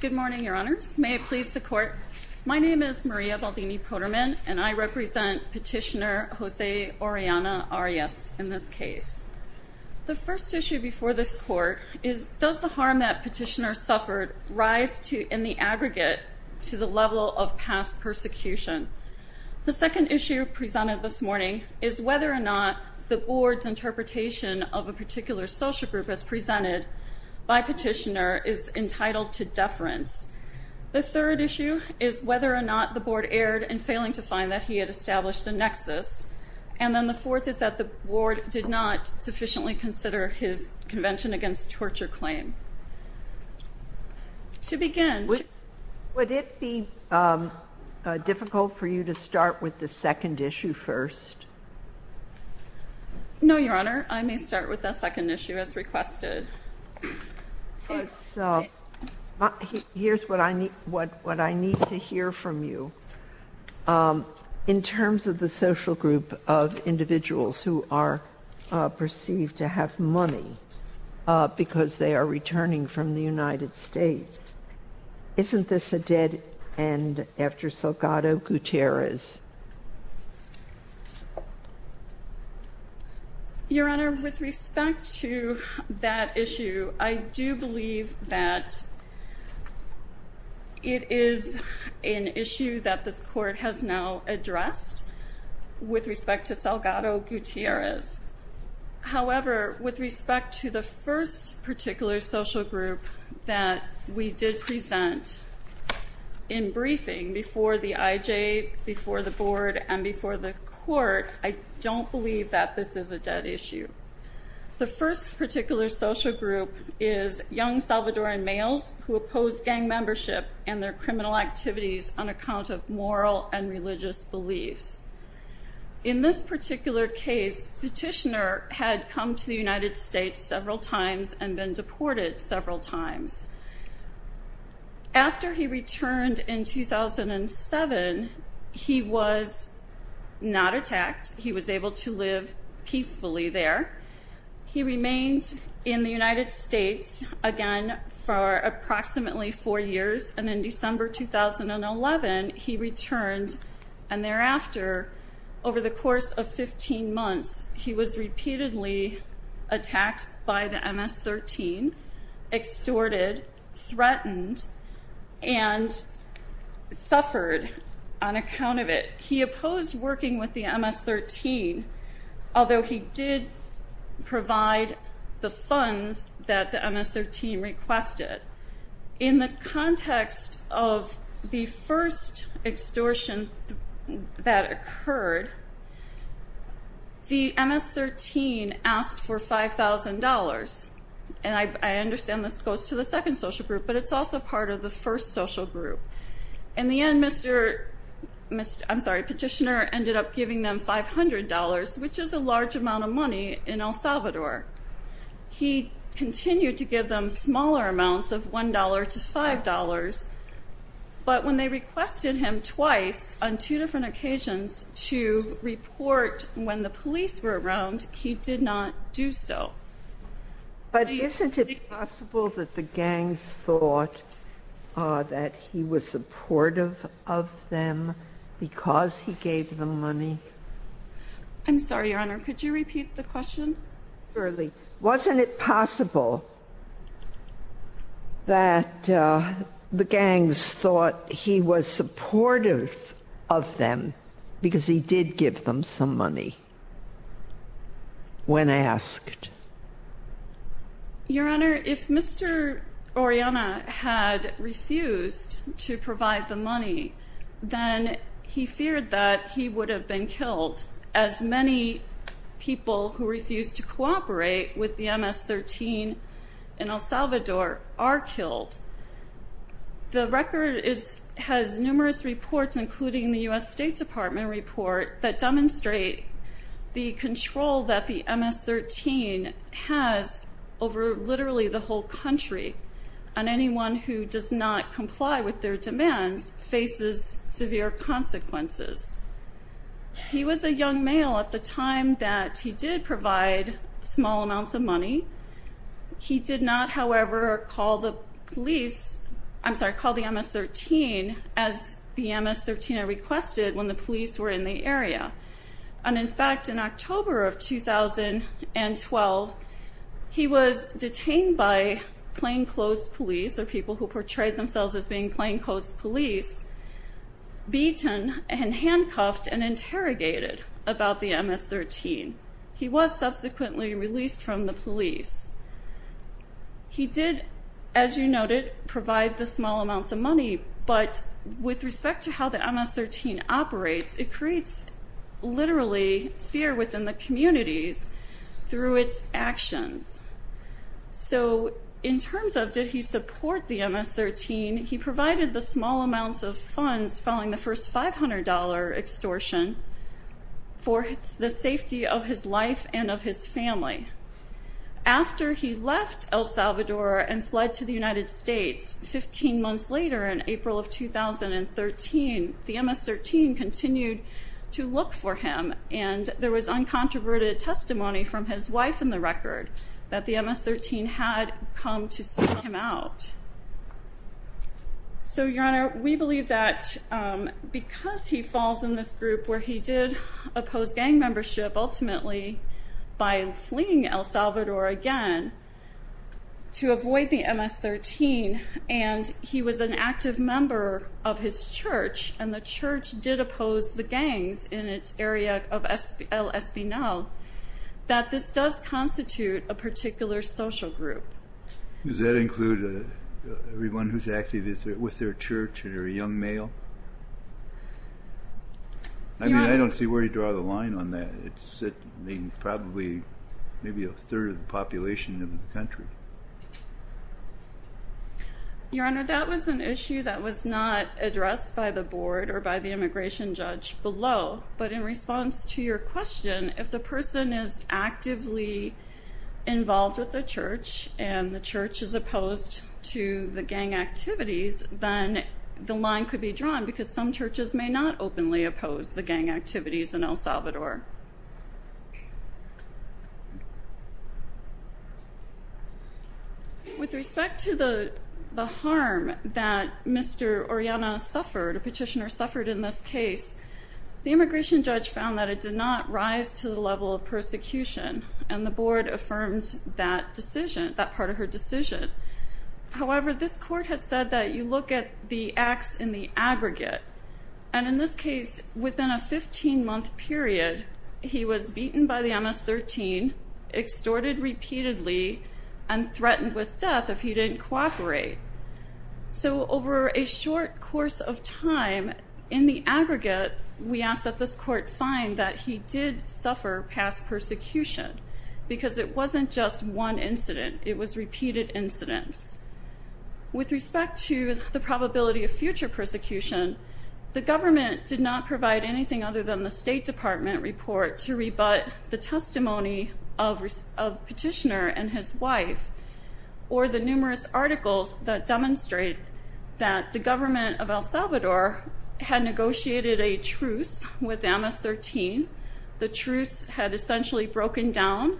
Good morning, Your Honors. May it please the Court, my name is Maria Baldini-Potterman, and I represent Petitioner Jose Orellana-Arias in this case. The first issue before this Court is does the harm that Petitioner suffered rise to, in the aggregate, to the level of past persecution? The second issue presented this morning is whether or not the Board's interpretation of a particular social group as presented by Petitioner is entitled to deference. The third issue is whether or not the Board erred in failing to find that he had established a nexus. And then the fourth is that the Board did not sufficiently consider his Convention Against Torture claim. Would it be difficult for you to start with the second issue first? No, Your Honor. I may start with the second issue as requested. Here's what I need to hear from you. In terms of the social group of individuals who are perceived to have money because they are returning from the United States, isn't this a dead end after Salgado-Gutierrez? Your Honor, with respect to that issue, I do believe that it is an issue that this Court has now addressed with respect to Salgado-Gutierrez. However, with respect to the first particular social group that we did present in briefing before the IJ, before the Board, and before the Court, I don't believe that this is a dead issue. The first particular social group is young Salvadoran males who oppose gang membership and their criminal activities on account of moral and religious beliefs. In this particular case, Petitioner had come to the United States several times and been deported several times. After he returned in 2007, he was not attacked. He was able to live peacefully there. He remained in the United States again for approximately four years, and in December 2011, he returned. And thereafter, over the course of 15 months, he was repeatedly attacked by the MS-13, extorted, threatened, and suffered on account of it. He opposed working with the MS-13, although he did provide the funds that the MS-13 requested. In the context of the first extortion that occurred, the MS-13 asked for $5,000. And I understand this goes to the second social group, but it's also part of the first social group. In the end, Petitioner ended up giving them $500, which is a large amount of money in El Salvador. He continued to give them smaller amounts of $1 to $5, but when they requested him twice on two different occasions to report when the police were around, he did not do so. But isn't it possible that the gangs thought that he was supportive of them because he gave them money? I'm sorry, Your Honor. Could you repeat the question? Wasn't it possible that the gangs thought he was supportive of them because he did give them some money when asked? Your Honor, if Mr. Orellana had refused to provide the money, then he feared that he would have been killed, as many people who refuse to cooperate with the MS-13 in El Salvador are killed. The record has numerous reports, including the U.S. State Department report, that demonstrate the control that the MS-13 has over literally the whole country, and anyone who does not comply with their demands faces severe consequences. He was a young male at the time that he did provide small amounts of money. He did not, however, call the MS-13 as the MS-13 had requested when the police were in the area. And in fact, in October of 2012, he was detained by plainclothes police, or people who portrayed themselves as being plainclothes police, beaten and handcuffed and interrogated about the MS-13. He was subsequently released from the police. He did, as you noted, provide the small amounts of money, but with respect to how the MS-13 operates, it creates literally fear within the communities through its actions. So in terms of did he support the MS-13, he provided the small amounts of funds following the first $500 extortion for the safety of his life and of his family. After he left El Salvador and fled to the United States, 15 months later in April of 2013, the MS-13 continued to look for him, and there was uncontroverted testimony from his wife in the record that the MS-13 had come to seek him out. So, Your Honor, we believe that because he falls in this group where he did oppose gang membership ultimately by fleeing El Salvador again to avoid the MS-13, and he was an active member of his church, and the church did oppose the gangs in its area of El Espinal, that this does constitute a particular social group. Does that include everyone who's active with their church and are a young male? I mean, I don't see where you draw the line on that. It's probably maybe a third of the population of the country. Your Honor, that was an issue that was not addressed by the board or by the immigration judge below, but in response to your question, if the person is actively involved with the church and the church is opposed to the gang activities, then the line could be drawn because some churches may not openly oppose the gang activities in El Salvador. With respect to the harm that Mr. Oriana suffered, a petitioner suffered in this case, the immigration judge found that it did not rise to the level of persecution, and the board affirmed that decision, that part of her decision. However, this court has said that you look at the acts in the aggregate, and in this case, within a 15-month period, he was beaten by the MS-13, extorted repeatedly, and threatened with death if he didn't cooperate. So over a short course of time, in the aggregate, we ask that this court find that he did suffer past persecution, because it wasn't just one incident, it was repeated incidents. With respect to the probability of future persecution, the government did not provide anything other than the State Department report to rebut the testimony of the petitioner and his wife, or the numerous articles that demonstrate that the government of El Salvador had negotiated a truce with MS-13. The truce had essentially broken down.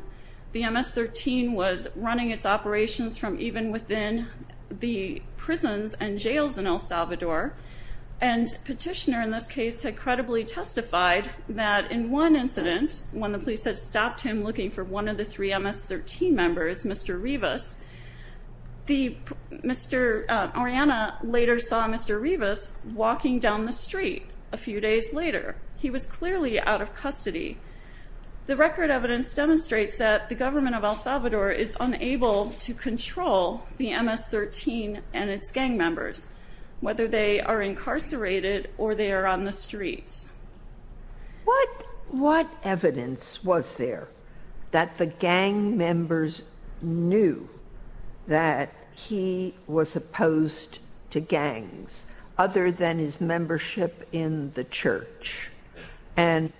The MS-13 was running its operations from even within the prisons and jails in El Salvador, and petitioner in this case had credibly testified that in one incident, when the police had stopped him looking for one of the three MS-13 members, Mr. Rivas, Oriana later saw Mr. Rivas walking down the street a few days later. He was clearly out of custody. The record evidence demonstrates that the government of El Salvador is unable to control the MS-13 and its gang members, whether they are incarcerated or they are on the streets. What evidence was there that the gang members knew that he was opposed to gangs other than his membership in the church? And,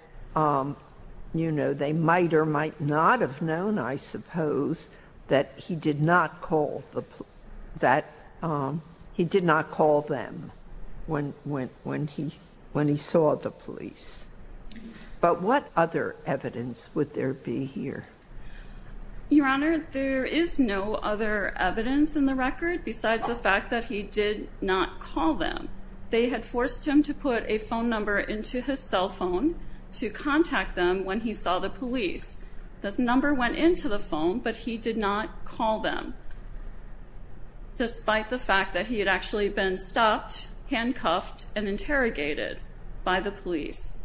you know, they might or might not have known, I suppose, that he did not call them when he saw the police. But what other evidence would there be here? Your Honor, there is no other evidence in the record besides the fact that he did not call them. They had forced him to put a phone number into his cell phone to contact them when he saw the police. This number went into the phone, but he did not call them, despite the fact that he had actually been stopped, handcuffed, and interrogated by the police.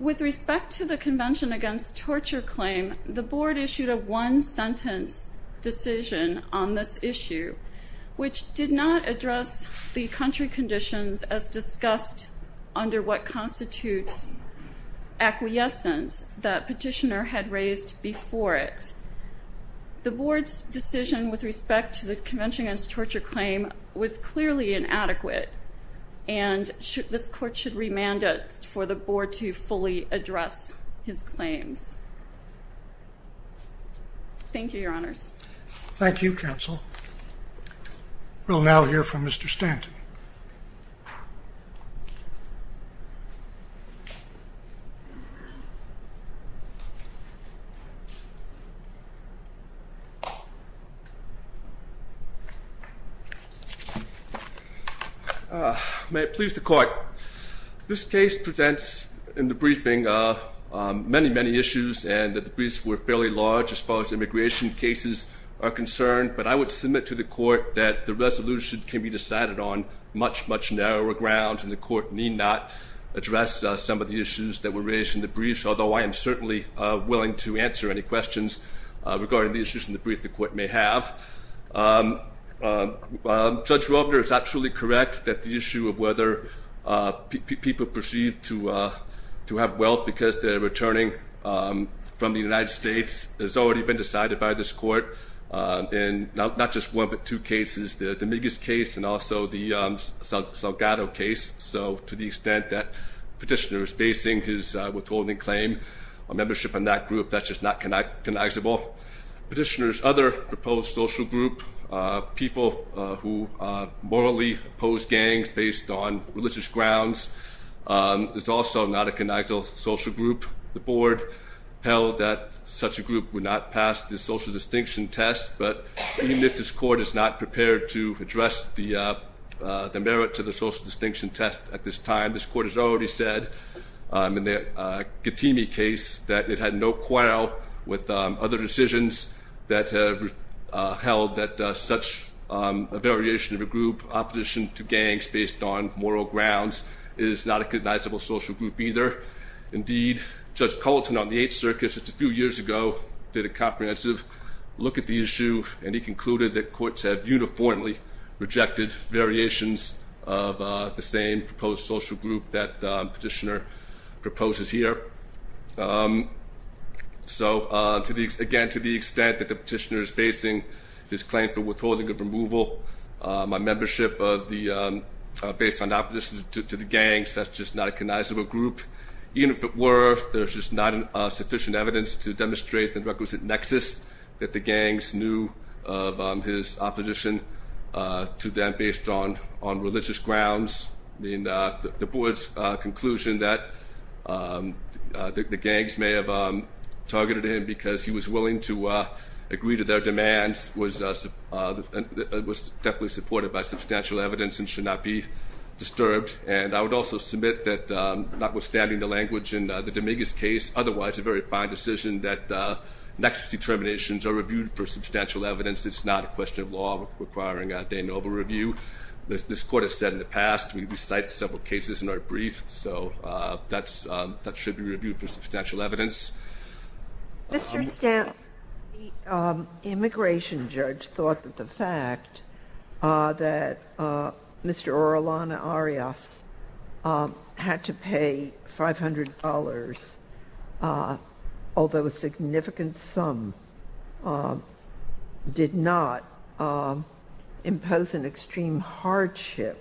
With respect to the Convention Against Torture claim, the Board issued a one-sentence decision on this issue, which did not address the country conditions as discussed under what constitutes acquiescence that Petitioner had raised before it. The Board's decision with respect to the Convention Against Torture claim was clearly inadequate, and this Court should remand it for the Board to fully address his claims. Thank you, Your Honors. Thank you, Counsel. We will now hear from Mr. Stanton. May it please the Court. This case presents in the briefing many, many issues, and the briefs were fairly large as far as immigration cases are concerned. But I would submit to the Court that the resolution can be decided on much, much narrower ground, and the Court need not address some of the issues that were raised in the brief, although I am certainly willing to answer any questions regarding the issues in the brief the Court may have. Judge Walker, it's absolutely correct that the issue of whether people proceed to have wealth because they're returning from the United States has already been decided by this Court in not just one but two cases, the Dominguez case and also the Salgado case. So to the extent that petitioner is basing his withholding claim on membership in that group, that's just not connectable. Petitioner's other proposed social group, people who morally oppose gangs based on religious grounds, is also not a connectable social group. The Board held that such a group would not pass the social distinction test, but even if this Court is not prepared to address the merits of the social distinction test at this time, this Court has already said in the Getimi case that it had no quarrel with other decisions that held that such a variation of a group, opposition to gangs based on moral grounds, is not a cognizable social group either. Indeed, Judge Colton on the 8th Circus just a few years ago did a comprehensive look at the issue, and he concluded that courts have uniformly rejected variations of the same proposed social group that petitioner proposes here. So again, to the extent that the petitioner is basing his claim for withholding of removal on membership based on opposition to the gangs, that's just not a cognizable group. Even if it were, there's just not sufficient evidence to demonstrate the requisite nexus that the gangs knew of his opposition to them based on religious grounds. The Board's conclusion that the gangs may have targeted him because he was willing to agree to their demands was definitely supported by substantial evidence and should not be disturbed. And I would also submit that notwithstanding the language in the Dominguez case, otherwise a very fine decision that nexus determinations are reviewed for substantial evidence. It's not a question of law requiring a de novo review. This Court has said in the past we recite several cases in our brief, so that should be reviewed for substantial evidence. Mr. McDaniel. The immigration judge thought that the fact that Mr. Orellana Arias had to pay $500, although a significant sum, did not impose an extreme hardship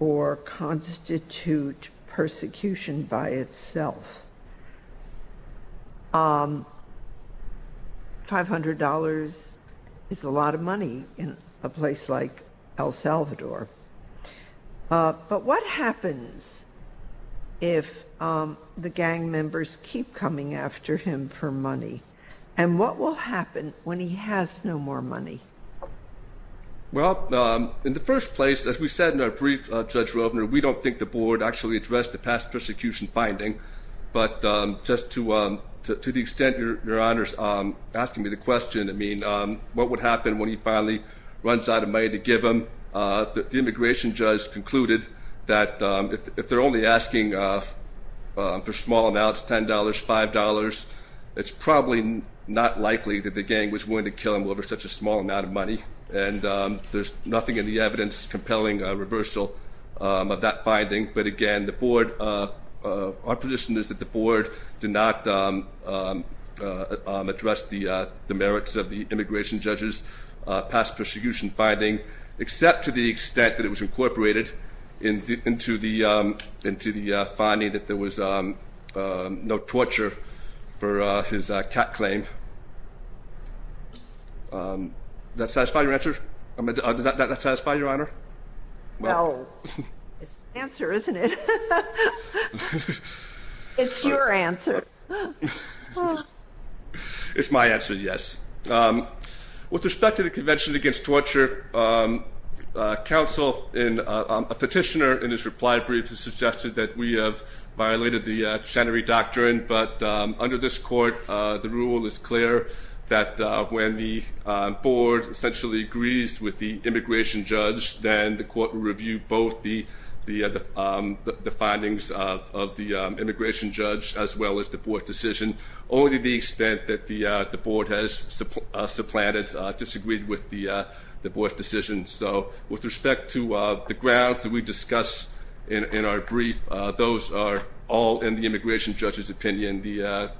or constitute persecution by itself. $500 is a lot of money in a place like El Salvador. But what happens if the gang members keep coming after him for money? And what will happen when he has no more money? Well, in the first place, as we said in our brief, Judge Roebner, we don't think the Board actually addressed the past persecution finding. But just to the extent your Honor is asking me the question, I mean, what would happen when he finally runs out of money to give him? The immigration judge concluded that if they're only asking for small amounts, $10, $5, it's probably not likely that the gang was willing to kill him over such a small amount of money. And there's nothing in the evidence compelling a reversal of that finding. But again, our position is that the Board did not address the merits of the immigration judge's past persecution finding, except to the extent that it was incorporated into the finding that there was no torture for his cat claim. Does that satisfy your answer? Does that satisfy your Honor? No. It's your answer, isn't it? It's your answer. It's my answer, yes. With respect to the Convention Against Torture, a petitioner in his reply brief has suggested that we have violated the Chenery Doctrine. But under this Court, the rule is clear that when the Board essentially agrees with the immigration judge, then the Court will review both the findings of the immigration judge as well as the Board's decision. Only to the extent that the Board has supplanted, disagreed with the Board's decision. So with respect to the grounds that we discussed in our brief, those are all in the immigration judge's opinion. The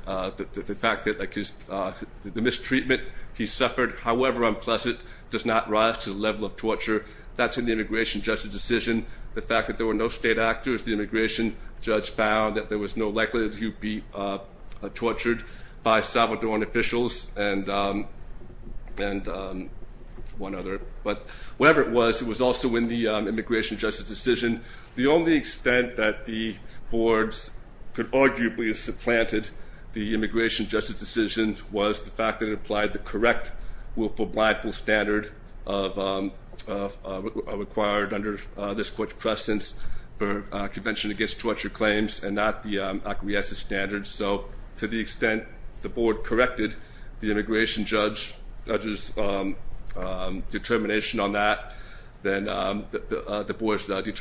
fact that the mistreatment he suffered, however unpleasant, does not rise to the level of torture. That's in the immigration judge's decision. The fact that there were no state actors, the immigration judge found that there was no likelihood that he would be tortured by Salvadoran officials and one other. But whatever it was, it was also in the immigration judge's decision. The only extent that the Board could arguably have supplanted the immigration judge's decision was the fact that it applied the correct willful-blindful standard required under this Court's precedence for Convention Against Torture claims and not the acquiescent standard. So to the extent the Board corrected the immigration judge's determination on that, then the Board's ruling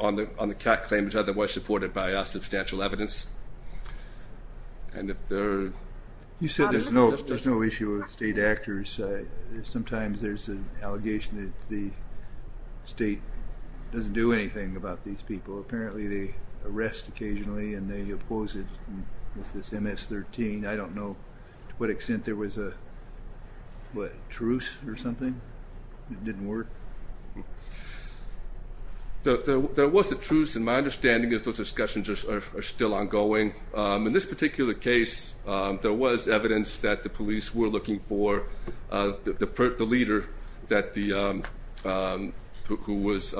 on the CAC claim is otherwise supported by substantial evidence. You said there's no issue with state actors. Sometimes there's an allegation that the state doesn't do anything about these people. Apparently they arrest occasionally and they oppose it with this MS-13. I don't know to what extent there was a truce or something that didn't work. There was a truce, and my understanding is those discussions are still ongoing. In this particular case, there was evidence that the police were looking for the leader who was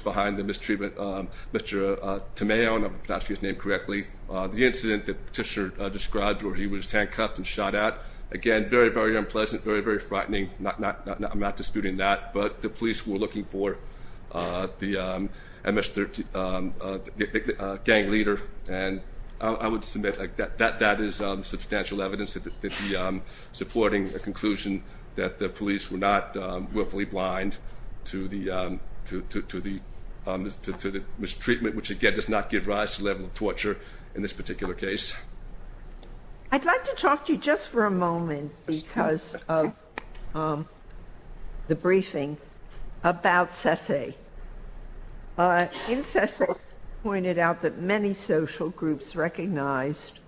behind the mistreatment, Mr. Tamayo, if I pronounce his name correctly, the incident that the petitioner described where he was handcuffed and shot at. Again, very, very unpleasant, very, very frightening. I'm not disputing that, but the police were looking for the MS-13 gang leader, and I would submit that that is substantial evidence supporting the conclusion that the police were not willfully blind to the mistreatment, which again does not give rise to the level of torture in this particular case. I'd like to talk to you just for a moment because of the briefing about SESE. In SESE, pointed out that many social groups recognized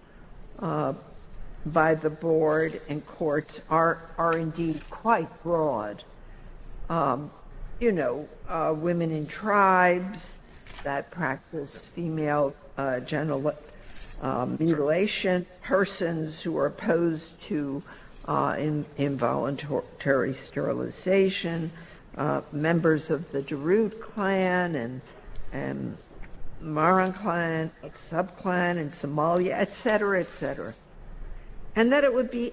by the board and courts are indeed quite broad. You know, women in tribes that practice female genital mutilation, persons who are opposed to involuntary sterilization, members of the Darut clan and Maran clan, sub-clan in Somalia, et cetera, et cetera. And that it would be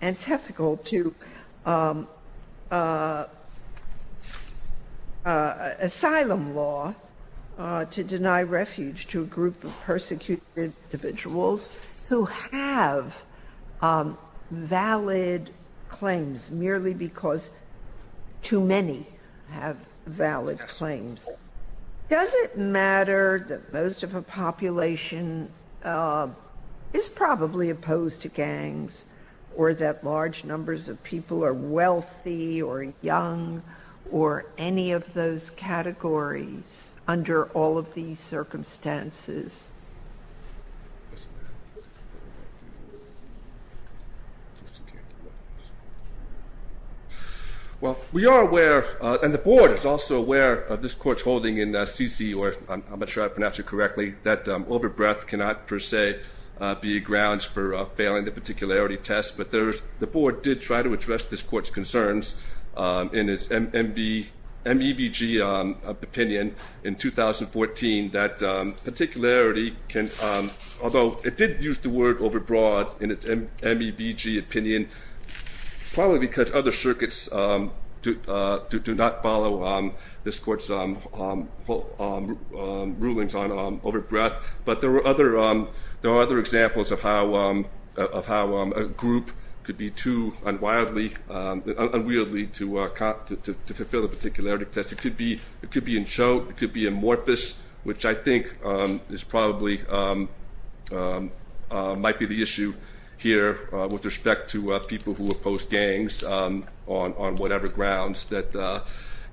antithetical to asylum law to deny refuge to a group of persecuted individuals who have valid claims merely because too many have valid claims. Does it matter that most of a population is probably opposed to gangs or that large numbers of people are wealthy or young or any of those categories under all of these circumstances? Well, we are aware and the board is also aware of this court's holding in SESE, or I'm not sure I pronounced it correctly, that over-breath cannot per se be grounds for failing the particularity test. But the board did try to address this court's concerns in its MEVG opinion in 2014 that particularity can, although it did use the word over-broad in its MEVG opinion, probably because other circuits do not follow this court's rulings on over-breath. But there were other examples of how a group could be too unwieldy to fulfill a particularity test. It could be in choke, it could be amorphous, which I think is probably, might be the issue here with respect to people who oppose gangs on whatever grounds.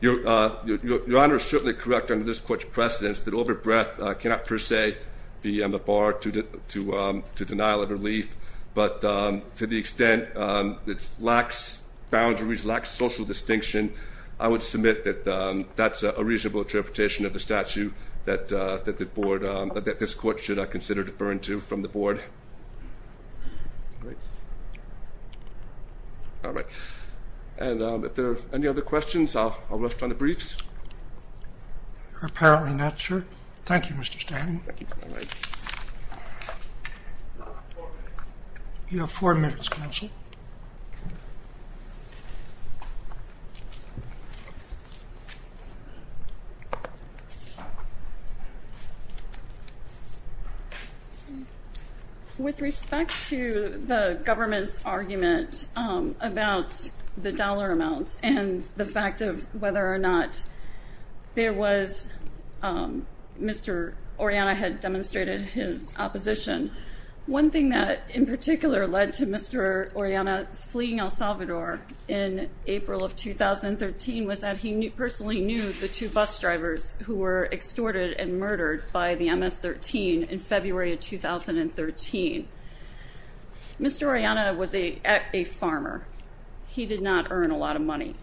Your Honor is certainly correct under this court's precedence that over-breath cannot per se be on the bar to denial of relief. But to the extent it lacks boundaries, lacks social distinction, I would submit that that's a reasonable interpretation of the statute that the board, that this court should consider deferring to from the board. All right. And if there are any other questions, I'll rest on the briefs. Apparently not, sir. Thank you, Mr. Stanton. You have four minutes, counsel. With respect to the government's argument about the dollar amounts and the fact of whether or not there was Mr. Orellana had demonstrated his opposition, one thing that in particular led to Mr. Orellana's fleeing El Salvador in April of 2013 was that he personally knew the two bus drivers who were extorted and murdered by the MS-13 in February of 2013. Mr. Orellana was a farmer. He did not earn a lot of money.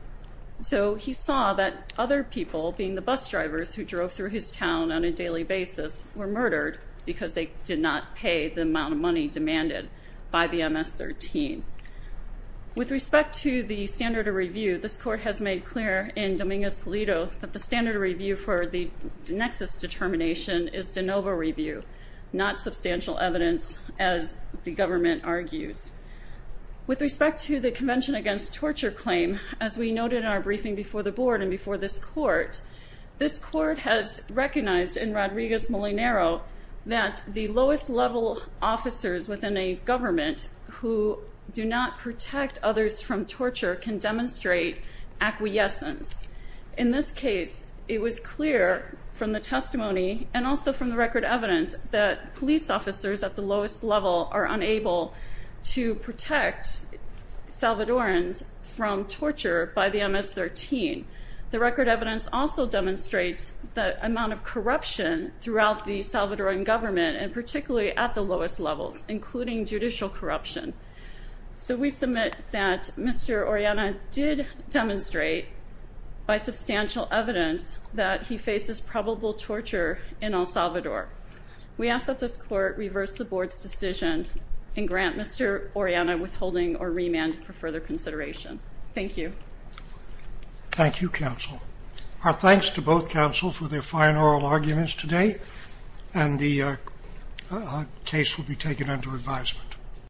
So he saw that other people, being the bus drivers who drove through his town on a daily basis, were murdered because they did not pay the amount of money demanded by the MS-13. With respect to the standard of review, this court has made clear in Dominguez-Palido that the standard of review for the nexus determination is de novo review, not substantial evidence, as the government argues. With respect to the Convention Against Torture claim, as we noted in our briefing before the board and before this court, this court has recognized in Rodriguez-Molinero that the lowest level officers within a government who do not protect others from torture can demonstrate acquiescence. In this case, it was clear from the testimony and also from the record evidence that police officers at the lowest level are unable to protect Salvadorans from torture by the MS-13. The record evidence also demonstrates the amount of corruption throughout the Salvadoran government, and particularly at the lowest levels, including judicial corruption. So we submit that Mr. Orellana did demonstrate by substantial evidence that he faces probable torture in El Salvador. We ask that this court reverse the board's decision and grant Mr. Orellana withholding or remand for further consideration. Thank you. Thank you, counsel. Our thanks to both counsel for their fine oral arguments today, and the case will be taken under advisement.